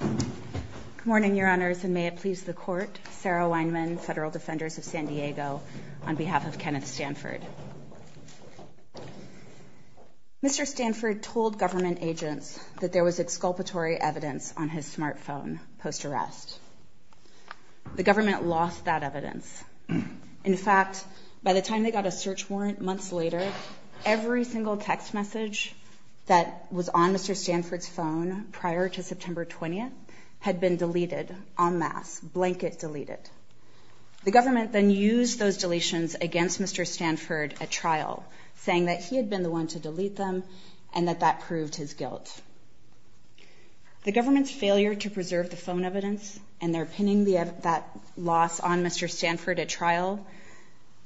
Good morning, Your Honors, and may it please the Court, Sarah Weinman, Federal Defenders of San Diego, on behalf of Kenneth Stanford. Mr. Stanford told government agents that there was exculpatory evidence on his smartphone post-arrest. In fact, by the time they got a search warrant months later, every single text message that was on Mr. Stanford's phone prior to September 20th had been deleted en masse, blanket deleted. The government then used those deletions against Mr. Stanford at trial, saying that he had been the one to delete them and that that proved his guilt. The government's failure to preserve the phone evidence and their pinning that loss on Mr. Stanford at trial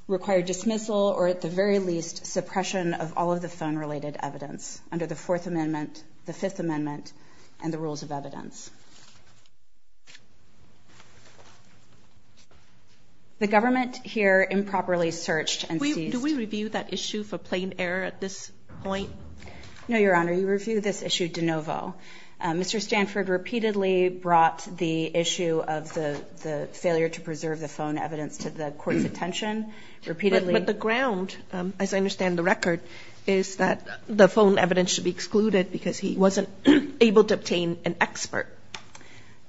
required dismissal or, at the very least, suppression of all of the phone-related evidence under the Fourth Amendment, the Fifth Amendment, and the Rules of Evidence. The government here improperly searched and seized... Do we review that issue for plain error at this point? No, Your Honor. You review this issue de novo. Mr. Stanford repeatedly brought the issue of the failure to preserve the phone evidence to the Court's attention, repeatedly. But the ground, as I understand the record, is that the phone evidence should be excluded because he wasn't able to obtain an expert.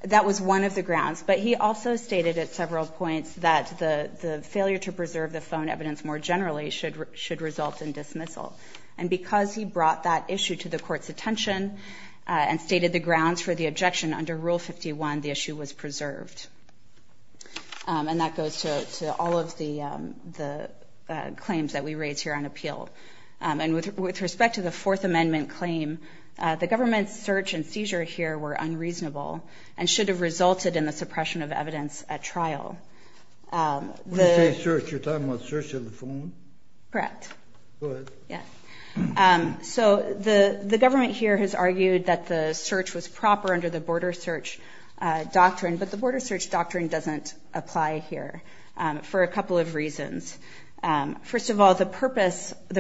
That was one of the grounds. But he also stated at several points that the failure to preserve the phone evidence more generally should result in dismissal. And because he brought that issue to the Court's attention and stated the grounds for the objection under Rule 51, the issue was preserved. And that goes to all of the claims that we raise here on appeal. And with respect to the Fourth Amendment claim, the government's search and seizure here were unreasonable and should have resulted in the suppression of evidence at trial. When you say search, you're talking about search of the phone? Correct. Go ahead. Yeah. So the government here has argued that the search was proper under the Border Search Doctrine, but the Border Search Doctrine doesn't apply here for a couple of reasons. First of all, the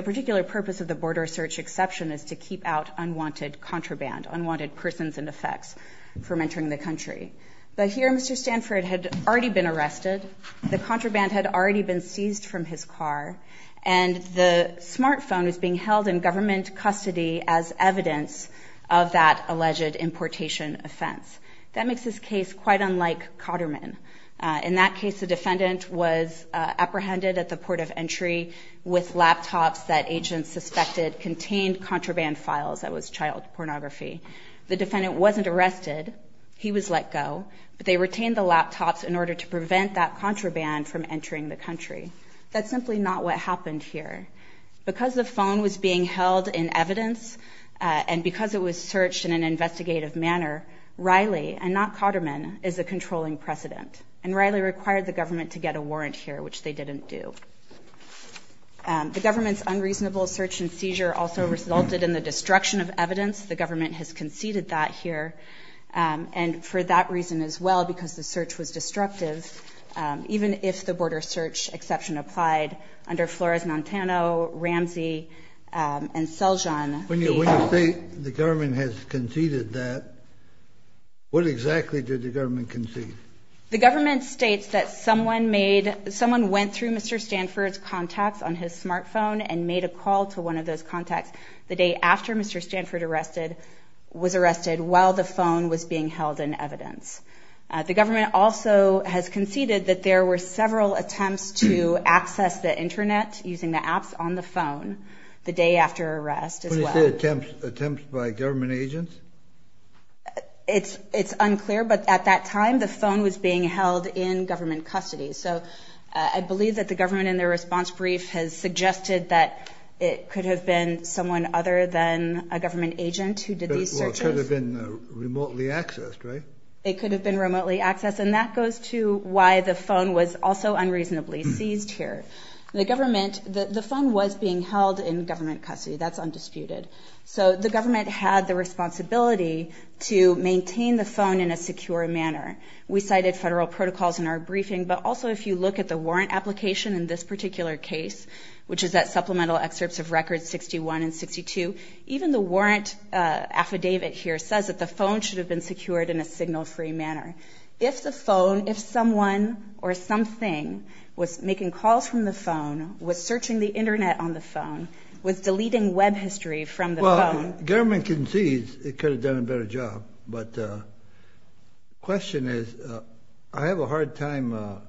particular purpose of the Border Search exception is to keep out unwanted contraband, unwanted persons and effects from entering the country. But here, Mr. Stanford had already been arrested. The contraband had already been seized from his car. And the smartphone was being held in government custody as evidence of that alleged importation offense. That makes this case quite unlike Cotterman. In that case, the defendant was apprehended at the port of entry with laptops that agents suspected contained contraband files. That was child pornography. The defendant wasn't arrested. He was let go. But they retained the laptops in order to prevent that contraband from entering the country. That's simply not what happened here. Because the phone was being held in evidence and because it was searched in an investigative manner, Riley, and not Cotterman, is the controlling precedent. And Riley required the government to get a warrant here, which they didn't do. The government's unreasonable search and seizure also resulted in the destruction of evidence. The government has conceded that here. And for that reason as well, because the search was destructive, even if the border search exception applied, under Flores-Montano, Ramsey, and Seljan. When you say the government has conceded that, what exactly did the government concede? The government states that someone went through Mr. Stanford's contacts on his smartphone and made a call to one of those contacts. The day after Mr. Stanford was arrested, while the phone was being held in evidence. The government also has conceded that there were several attempts to access the internet using the apps on the phone the day after arrest as well. When you say attempts, attempts by government agents? It's unclear. But at that time, the phone was being held in government custody. So I believe that the government in their response brief has suggested that it could have been someone other than a government agent who did these searches. It could have been remotely accessed, right? It could have been remotely accessed. And that goes to why the phone was also unreasonably seized here. The phone was being held in government custody. That's undisputed. So the government had the responsibility to maintain the phone in a secure manner. We cited federal protocols in our briefing, but also if you look at the warrant application in this particular case, which is that supplemental excerpts of records 61 and 62, even the warrant affidavit here says that the phone should have been secured in a signal-free manner. If the phone, if someone or something was making calls from the phone, was searching the internet on the phone, was deleting web history from the phone. If the government concedes, it could have done a better job. But the question is, I have a hard time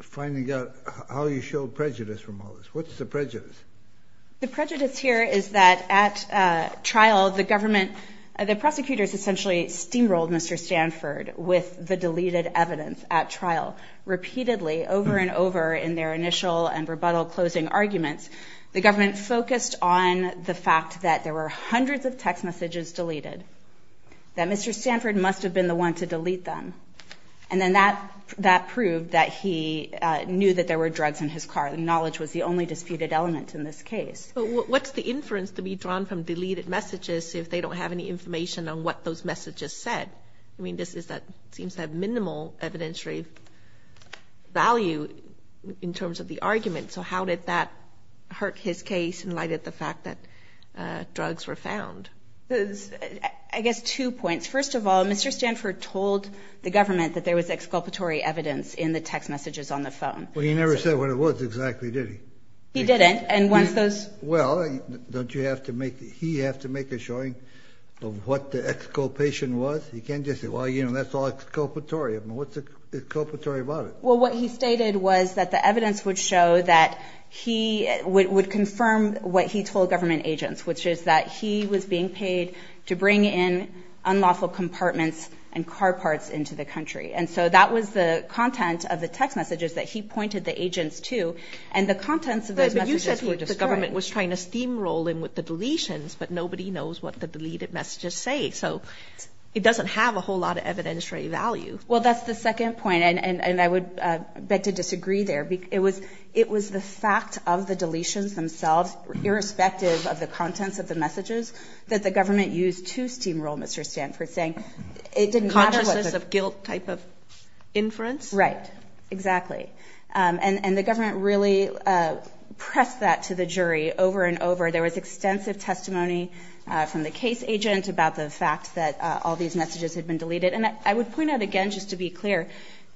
finding out how you show prejudice from all this. What's the prejudice? The prejudice here is that at trial, the government, the prosecutors essentially steamrolled Mr. Stanford with the deleted evidence at trial repeatedly over and over in their initial and rebuttal closing arguments. The government focused on the fact that there were hundreds of text messages deleted, that Mr. Stanford must have been the one to delete them. And then that proved that he knew that there were drugs in his car. Knowledge was the only disputed element in this case. But what's the inference to be drawn from deleted messages if they don't have any information on what those messages said? I mean, this seems to have minimal evidentiary value in terms of the argument. So how did that hurt his case in light of the fact that drugs were found? I guess two points. First of all, Mr. Stanford told the government that there was exculpatory evidence in the text messages on the phone. Well, he never said what it was exactly, did he? He didn't. And once those – Well, don't you have to make – he have to make a showing of what the exculpation was? He can't just say, well, you know, that's all exculpatory. I mean, what's exculpatory about it? Well, what he stated was that the evidence would show that he would confirm what he told government agents, which is that he was being paid to bring in unlawful compartments and car parts into the country. And so that was the content of the text messages that he pointed the agents to. And the contents of those messages were destroyed. But you said the government was trying to steamroll in with the deletions, but nobody knows what the deleted messages say. So it doesn't have a whole lot of evidentiary value. Well, that's the second point, and I would beg to disagree there. It was the fact of the deletions themselves, irrespective of the contents of the messages, that the government used to steamroll Mr. Stanford, saying it didn't matter what the – Consciousness of guilt type of inference? Right. Exactly. And the government really pressed that to the jury over and over. There was extensive testimony from the case agent about the fact that all these messages had been deleted. And I would point out again, just to be clear,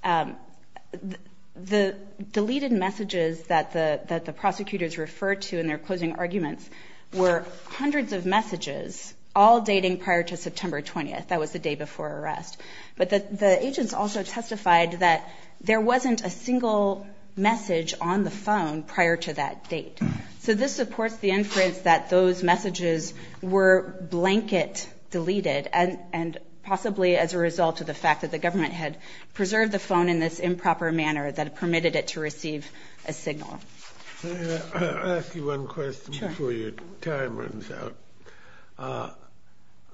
the deleted messages that the prosecutors referred to in their closing arguments were hundreds of messages, all dating prior to September 20th. That was the day before arrest. But the agents also testified that there wasn't a single message on the phone prior to that date. So this supports the inference that those messages were blanket deleted, and possibly as a result of the fact that the government had preserved the phone in this improper manner that permitted it to receive a signal. I'll ask you one question before your time runs out.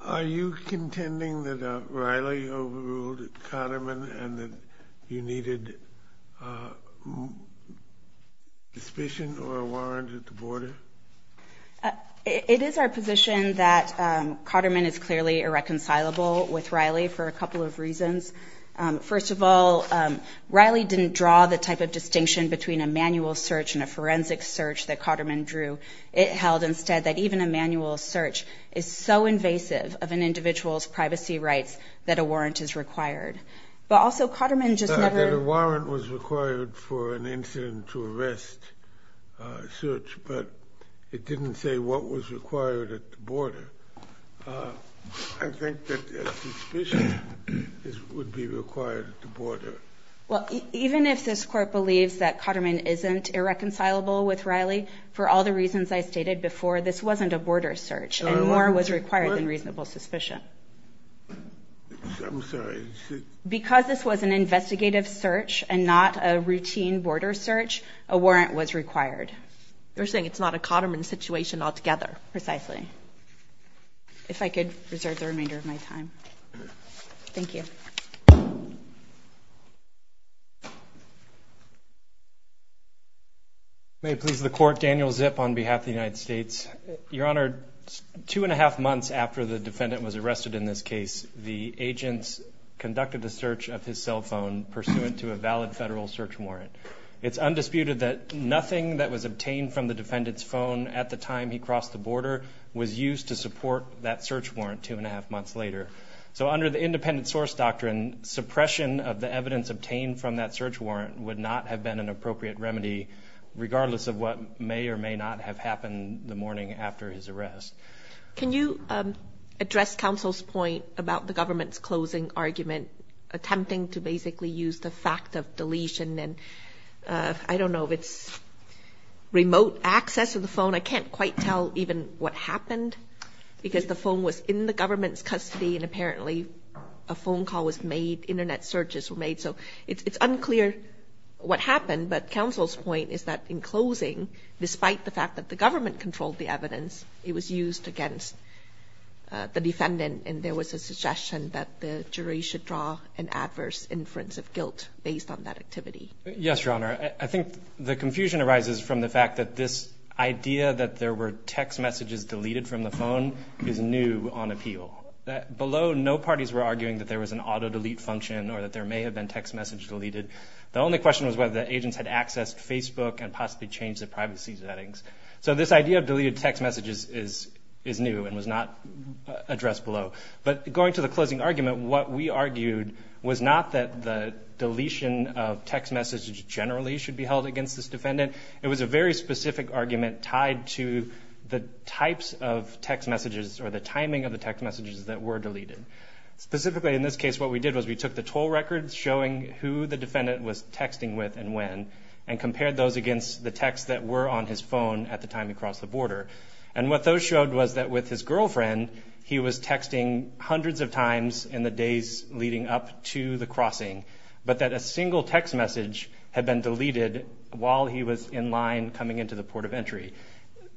Are you contending that Riley overruled Cotterman and that you needed suspicion or a warrant at the border? It is our position that Cotterman is clearly irreconcilable with Riley for a couple of reasons. First of all, Riley didn't draw the type of distinction between a manual search and a forensic search that Cotterman drew. It held instead that even a manual search is so invasive of an individual's privacy rights that a warrant is required. But also Cotterman just never – He said that a warrant was required for an incident to arrest a search, but it didn't say what was required at the border. Well, even if this Court believes that Cotterman isn't irreconcilable with Riley, for all the reasons I stated before, this wasn't a border search, and more was required than reasonable suspicion. I'm sorry. Because this was an investigative search and not a routine border search, a warrant was required. You're saying it's not a Cotterman situation altogether. Precisely. If I could reserve the remainder of my time. Thank you. May it please the Court, Daniel Zip on behalf of the United States. Your Honor, two and a half months after the defendant was arrested in this case, the agents conducted the search of his cell phone pursuant to a valid federal search warrant. It's undisputed that nothing that was obtained from the defendant's phone at the time he crossed the border was used to support that search warrant two and a half months later. So under the independent source doctrine, suppression of the evidence obtained from that search warrant would not have been an appropriate remedy, regardless of what may or may not have happened the morning after his arrest. Can you address counsel's point about the government's closing argument, attempting to basically use the fact of deletion and I don't know if it's remote access to the phone. I can't quite tell even what happened because the phone was in the government's custody and apparently a phone call was made, Internet searches were made. So it's unclear what happened, but counsel's point is that in closing, despite the fact that the government controlled the evidence, it was used against the defendant and there was a suggestion that the jury should draw an adverse inference of guilt based on that activity. Yes, Your Honor. I think the confusion arises from the fact that this idea that there were text messages deleted from the phone is new on appeal. Below, no parties were arguing that there was an auto delete function or that there may have been text messages deleted. The only question was whether the agents had accessed Facebook and possibly changed the privacy settings. So this idea of deleted text messages is new and was not addressed below. But going to the closing argument, what we argued was not that the deletion of text messages generally should be held against this defendant. It was a very specific argument tied to the types of text messages or the timing of the text messages that were deleted. Specifically in this case, what we did was we took the toll records showing who the defendant was texting with and when and compared those against the texts that were on his phone at the time he crossed the border. And what those showed was that with his girlfriend, he was texting hundreds of times in the days leading up to the crossing, but that a single text message had been deleted while he was in line coming into the port of entry.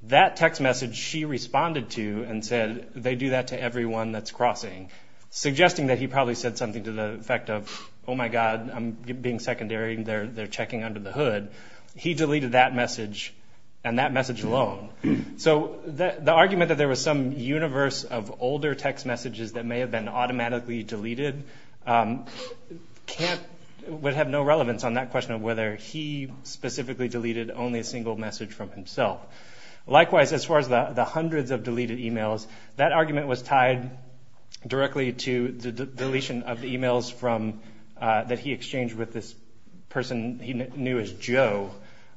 That text message she responded to and said, they do that to everyone that's crossing, suggesting that he probably said something to the effect of, oh my God, I'm being secondary and they're checking under the hood. He deleted that message and that message alone. So the argument that there was some universe of older text messages that may have been automatically deleted would have no relevance on that question of whether he specifically deleted only a single message from himself. Likewise, as far as the hundreds of deleted emails, that argument was tied directly to the deletion of the emails that he exchanged with this person he knew as Joe.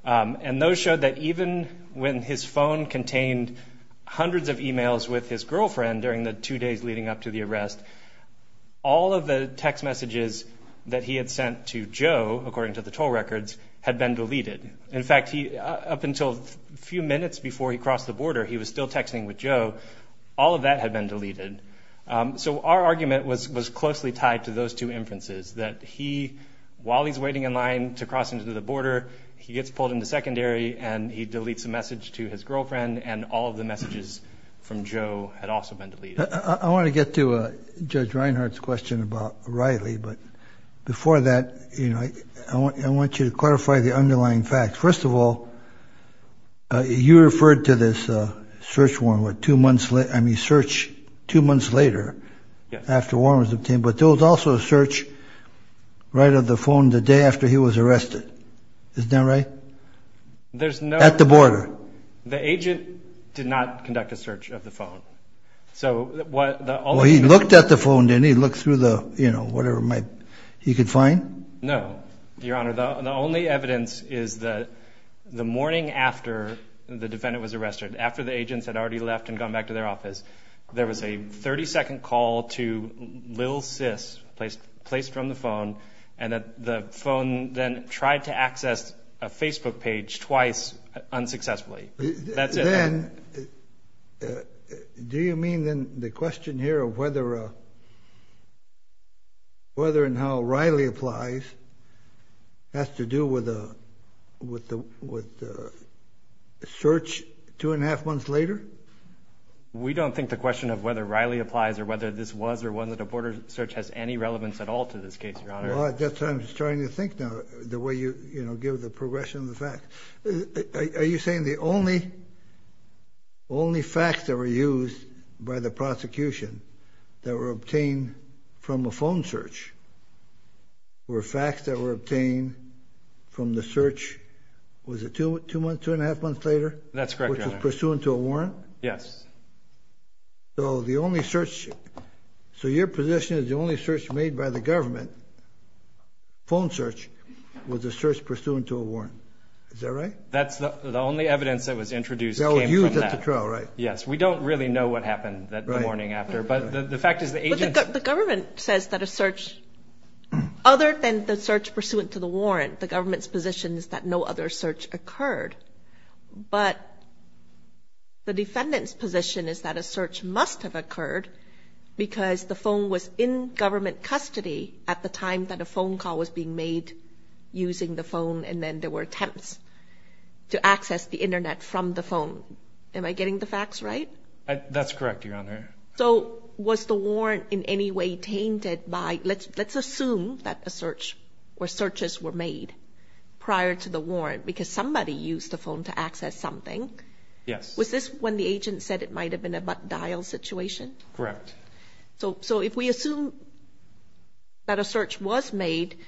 And those showed that even when his phone contained hundreds of emails with his girlfriend during the two days leading up to the arrest, all of the text messages that he had sent to Joe, according to the toll records, had been deleted. In fact, up until a few minutes before he crossed the border, he was still texting with Joe. All of that had been deleted. So our argument was closely tied to those two inferences, that he, while he's waiting in line to cross into the border, he gets pulled into secondary and he deletes a message to his girlfriend and all of the messages from Joe had also been deleted. I want to get to Judge Reinhardt's question about Riley. But before that, you know, I want you to clarify the underlying facts. First of all, you referred to this search warrant with two months late. I mean, search two months later after one was obtained. But there was also a search right of the phone the day after he was arrested. Isn't that right? At the border. The agent did not conduct a search of the phone. Well, he looked at the phone, didn't he? He looked through the, you know, whatever he could find? No, Your Honor. The only evidence is that the morning after the defendant was arrested, after the agents had already left and gone back to their office, there was a 30-second call to Lil Sis placed from the phone and the phone then tried to access a Facebook page twice unsuccessfully. That's it. Then do you mean then the question here of whether and how Riley applies has to do with the search two and a half months later? We don't think the question of whether Riley applies or whether this was or wasn't a border search has any relevance at all to this case, Your Honor. Well, that's what I'm starting to think now, the way you, you know, give the progression of the facts. Are you saying the only facts that were used by the prosecution that were obtained from a phone search were facts that were obtained from the search, was it two and a half months later? That's correct, Your Honor. Which was pursuant to a warrant? Yes. So the only search, so your position is the only search made by the government, phone search, was a search pursuant to a warrant. Is that right? That's the only evidence that was introduced that came from that. That was used at the trial, right? Yes. We don't really know what happened that morning after, but the fact is the agents... But the government says that a search, other than the search pursuant to the warrant, the government's position is that no other search occurred, but the defendant's position is that a search must have occurred because the phone was in government custody at the time that a phone call was being made using the phone and then there were attempts to access the Internet from the phone. Am I getting the facts right? That's correct, Your Honor. So was the warrant in any way tainted by... Let's assume that a search or searches were made prior to the warrant because somebody used the phone to access something. Yes. Was this when the agent said it might have been a dial situation? Correct. So if we assume that a search was made,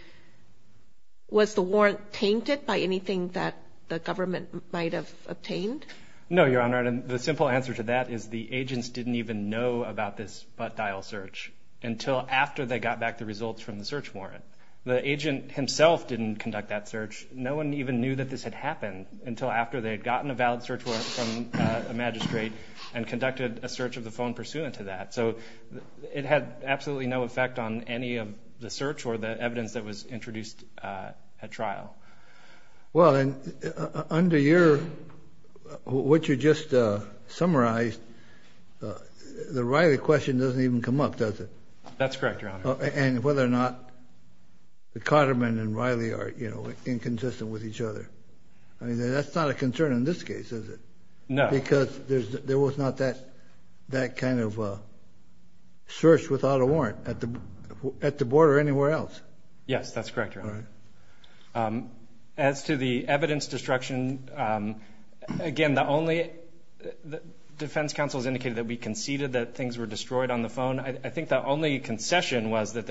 was the warrant tainted by anything that the government might have obtained? No, Your Honor. The simple answer to that is the agents didn't even know about this dial search until after they got back the results from the search warrant. The agent himself didn't conduct that search. No one even knew that this had happened until after they had gotten a valid search warrant from a magistrate and conducted a search of the phone pursuant to that. So it had absolutely no effect on any of the search or the evidence that was introduced at trial. Well, under what you just summarized, the Riley question doesn't even come up, does it? That's correct, Your Honor. And whether or not the Cotterman and Riley are inconsistent with each other. That's not a concern in this case, is it? No. Because there was not that kind of search without a warrant at the border or anywhere else. Yes, that's correct, Your Honor. As to the evidence destruction, again, the only defense counsel has indicated that we conceded that things were destroyed on the phone. I think the only concession was that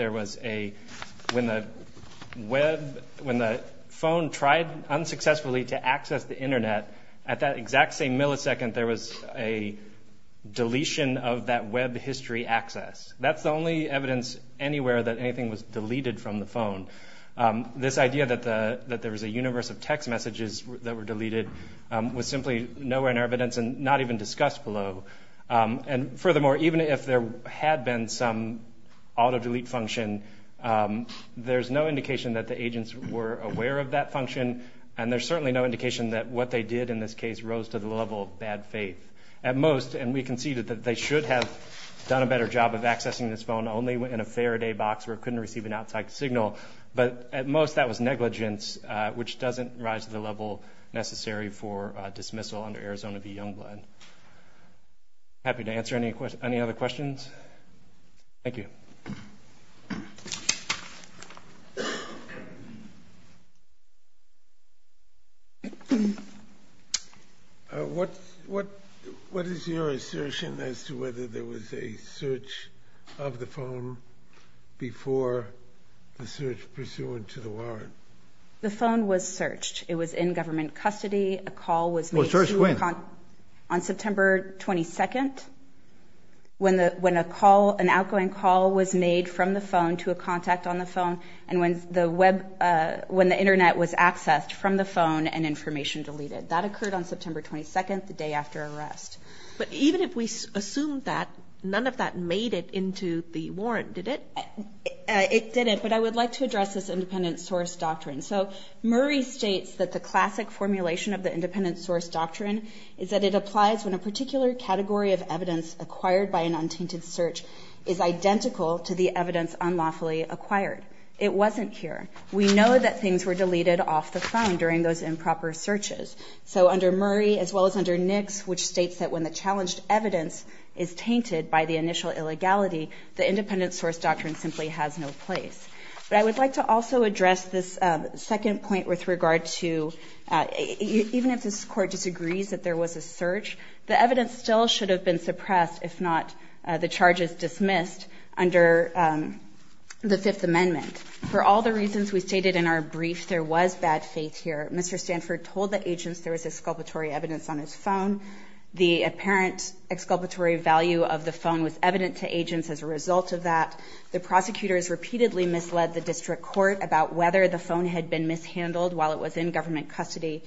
when the phone tried unsuccessfully to access the Internet, at that exact same millisecond there was a deletion of that web history access. That's the only evidence anywhere that anything was deleted from the phone. This idea that there was a universe of text messages that were deleted was simply nowhere in evidence and not even discussed below. And furthermore, even if there had been some auto-delete function, there's no indication that the agents were aware of that function, and there's certainly no indication that what they did in this case rose to the level of bad faith. At most, and we conceded that they should have done a better job of accessing this phone only in a Faraday box where it couldn't receive an outside signal, but at most that was negligence, which doesn't rise to the level necessary for dismissal under Arizona v. Youngblood. I'm happy to answer any other questions. Thank you. Thank you. What is your assertion as to whether there was a search of the phone before the search pursuant to the warrant? The phone was searched. It was in government custody. A call was made on September 22nd. When an outgoing call was made from the phone to a contact on the phone and when the Internet was accessed from the phone and information deleted. That occurred on September 22nd, the day after arrest. But even if we assume that, none of that made it into the warrant, did it? It didn't, but I would like to address this independent source doctrine. So Murray states that the classic formulation of the independent source doctrine is that it applies when a particular category of evidence acquired by an untainted search is identical to the evidence unlawfully acquired. It wasn't here. We know that things were deleted off the phone during those improper searches. So under Murray, as well as under Nix, which states that when the challenged evidence is tainted by the initial illegality, the independent source doctrine simply has no place. But I would like to also address this second point with regard to even if this court disagrees that there was a search, the evidence still should have been suppressed if not the charges dismissed under the Fifth Amendment. For all the reasons we stated in our brief, there was bad faith here. Mr. Stanford told the agents there was exculpatory evidence on his phone. The apparent exculpatory value of the phone was evident to agents as a result of that. The prosecutors repeatedly misled the district court about whether the phone had been mishandled while it was in government custody.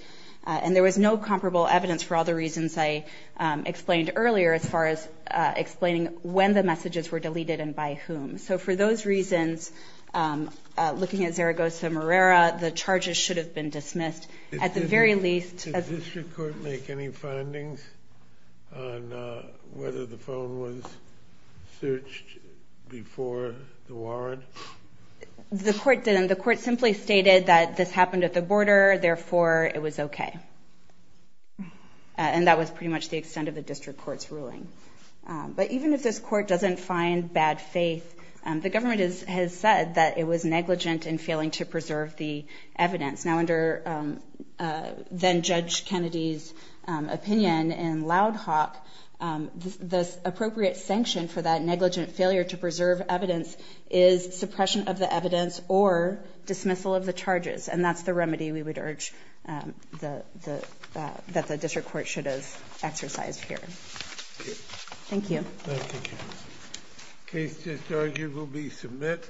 And there was no comparable evidence for all the reasons I explained earlier as far as explaining when the messages were deleted and by whom. So for those reasons, looking at Zaragoza-Morera, the charges should have been dismissed. Did the district court make any findings on whether the phone was searched before the warrant? The court didn't. The court simply stated that this happened at the border, therefore it was okay. And that was pretty much the extent of the district court's ruling. But even if this court doesn't find bad faith, the government has said that it was negligent in failing to preserve the evidence. Now under then-Judge Kennedy's opinion in Loud Hawk, the appropriate sanction for that negligent failure to preserve evidence is suppression of the evidence or dismissal of the charges. And that's the remedy we would urge that the district court should have exercised here. Thank you. Thank you, Judge. The case, Judge, will be submitted.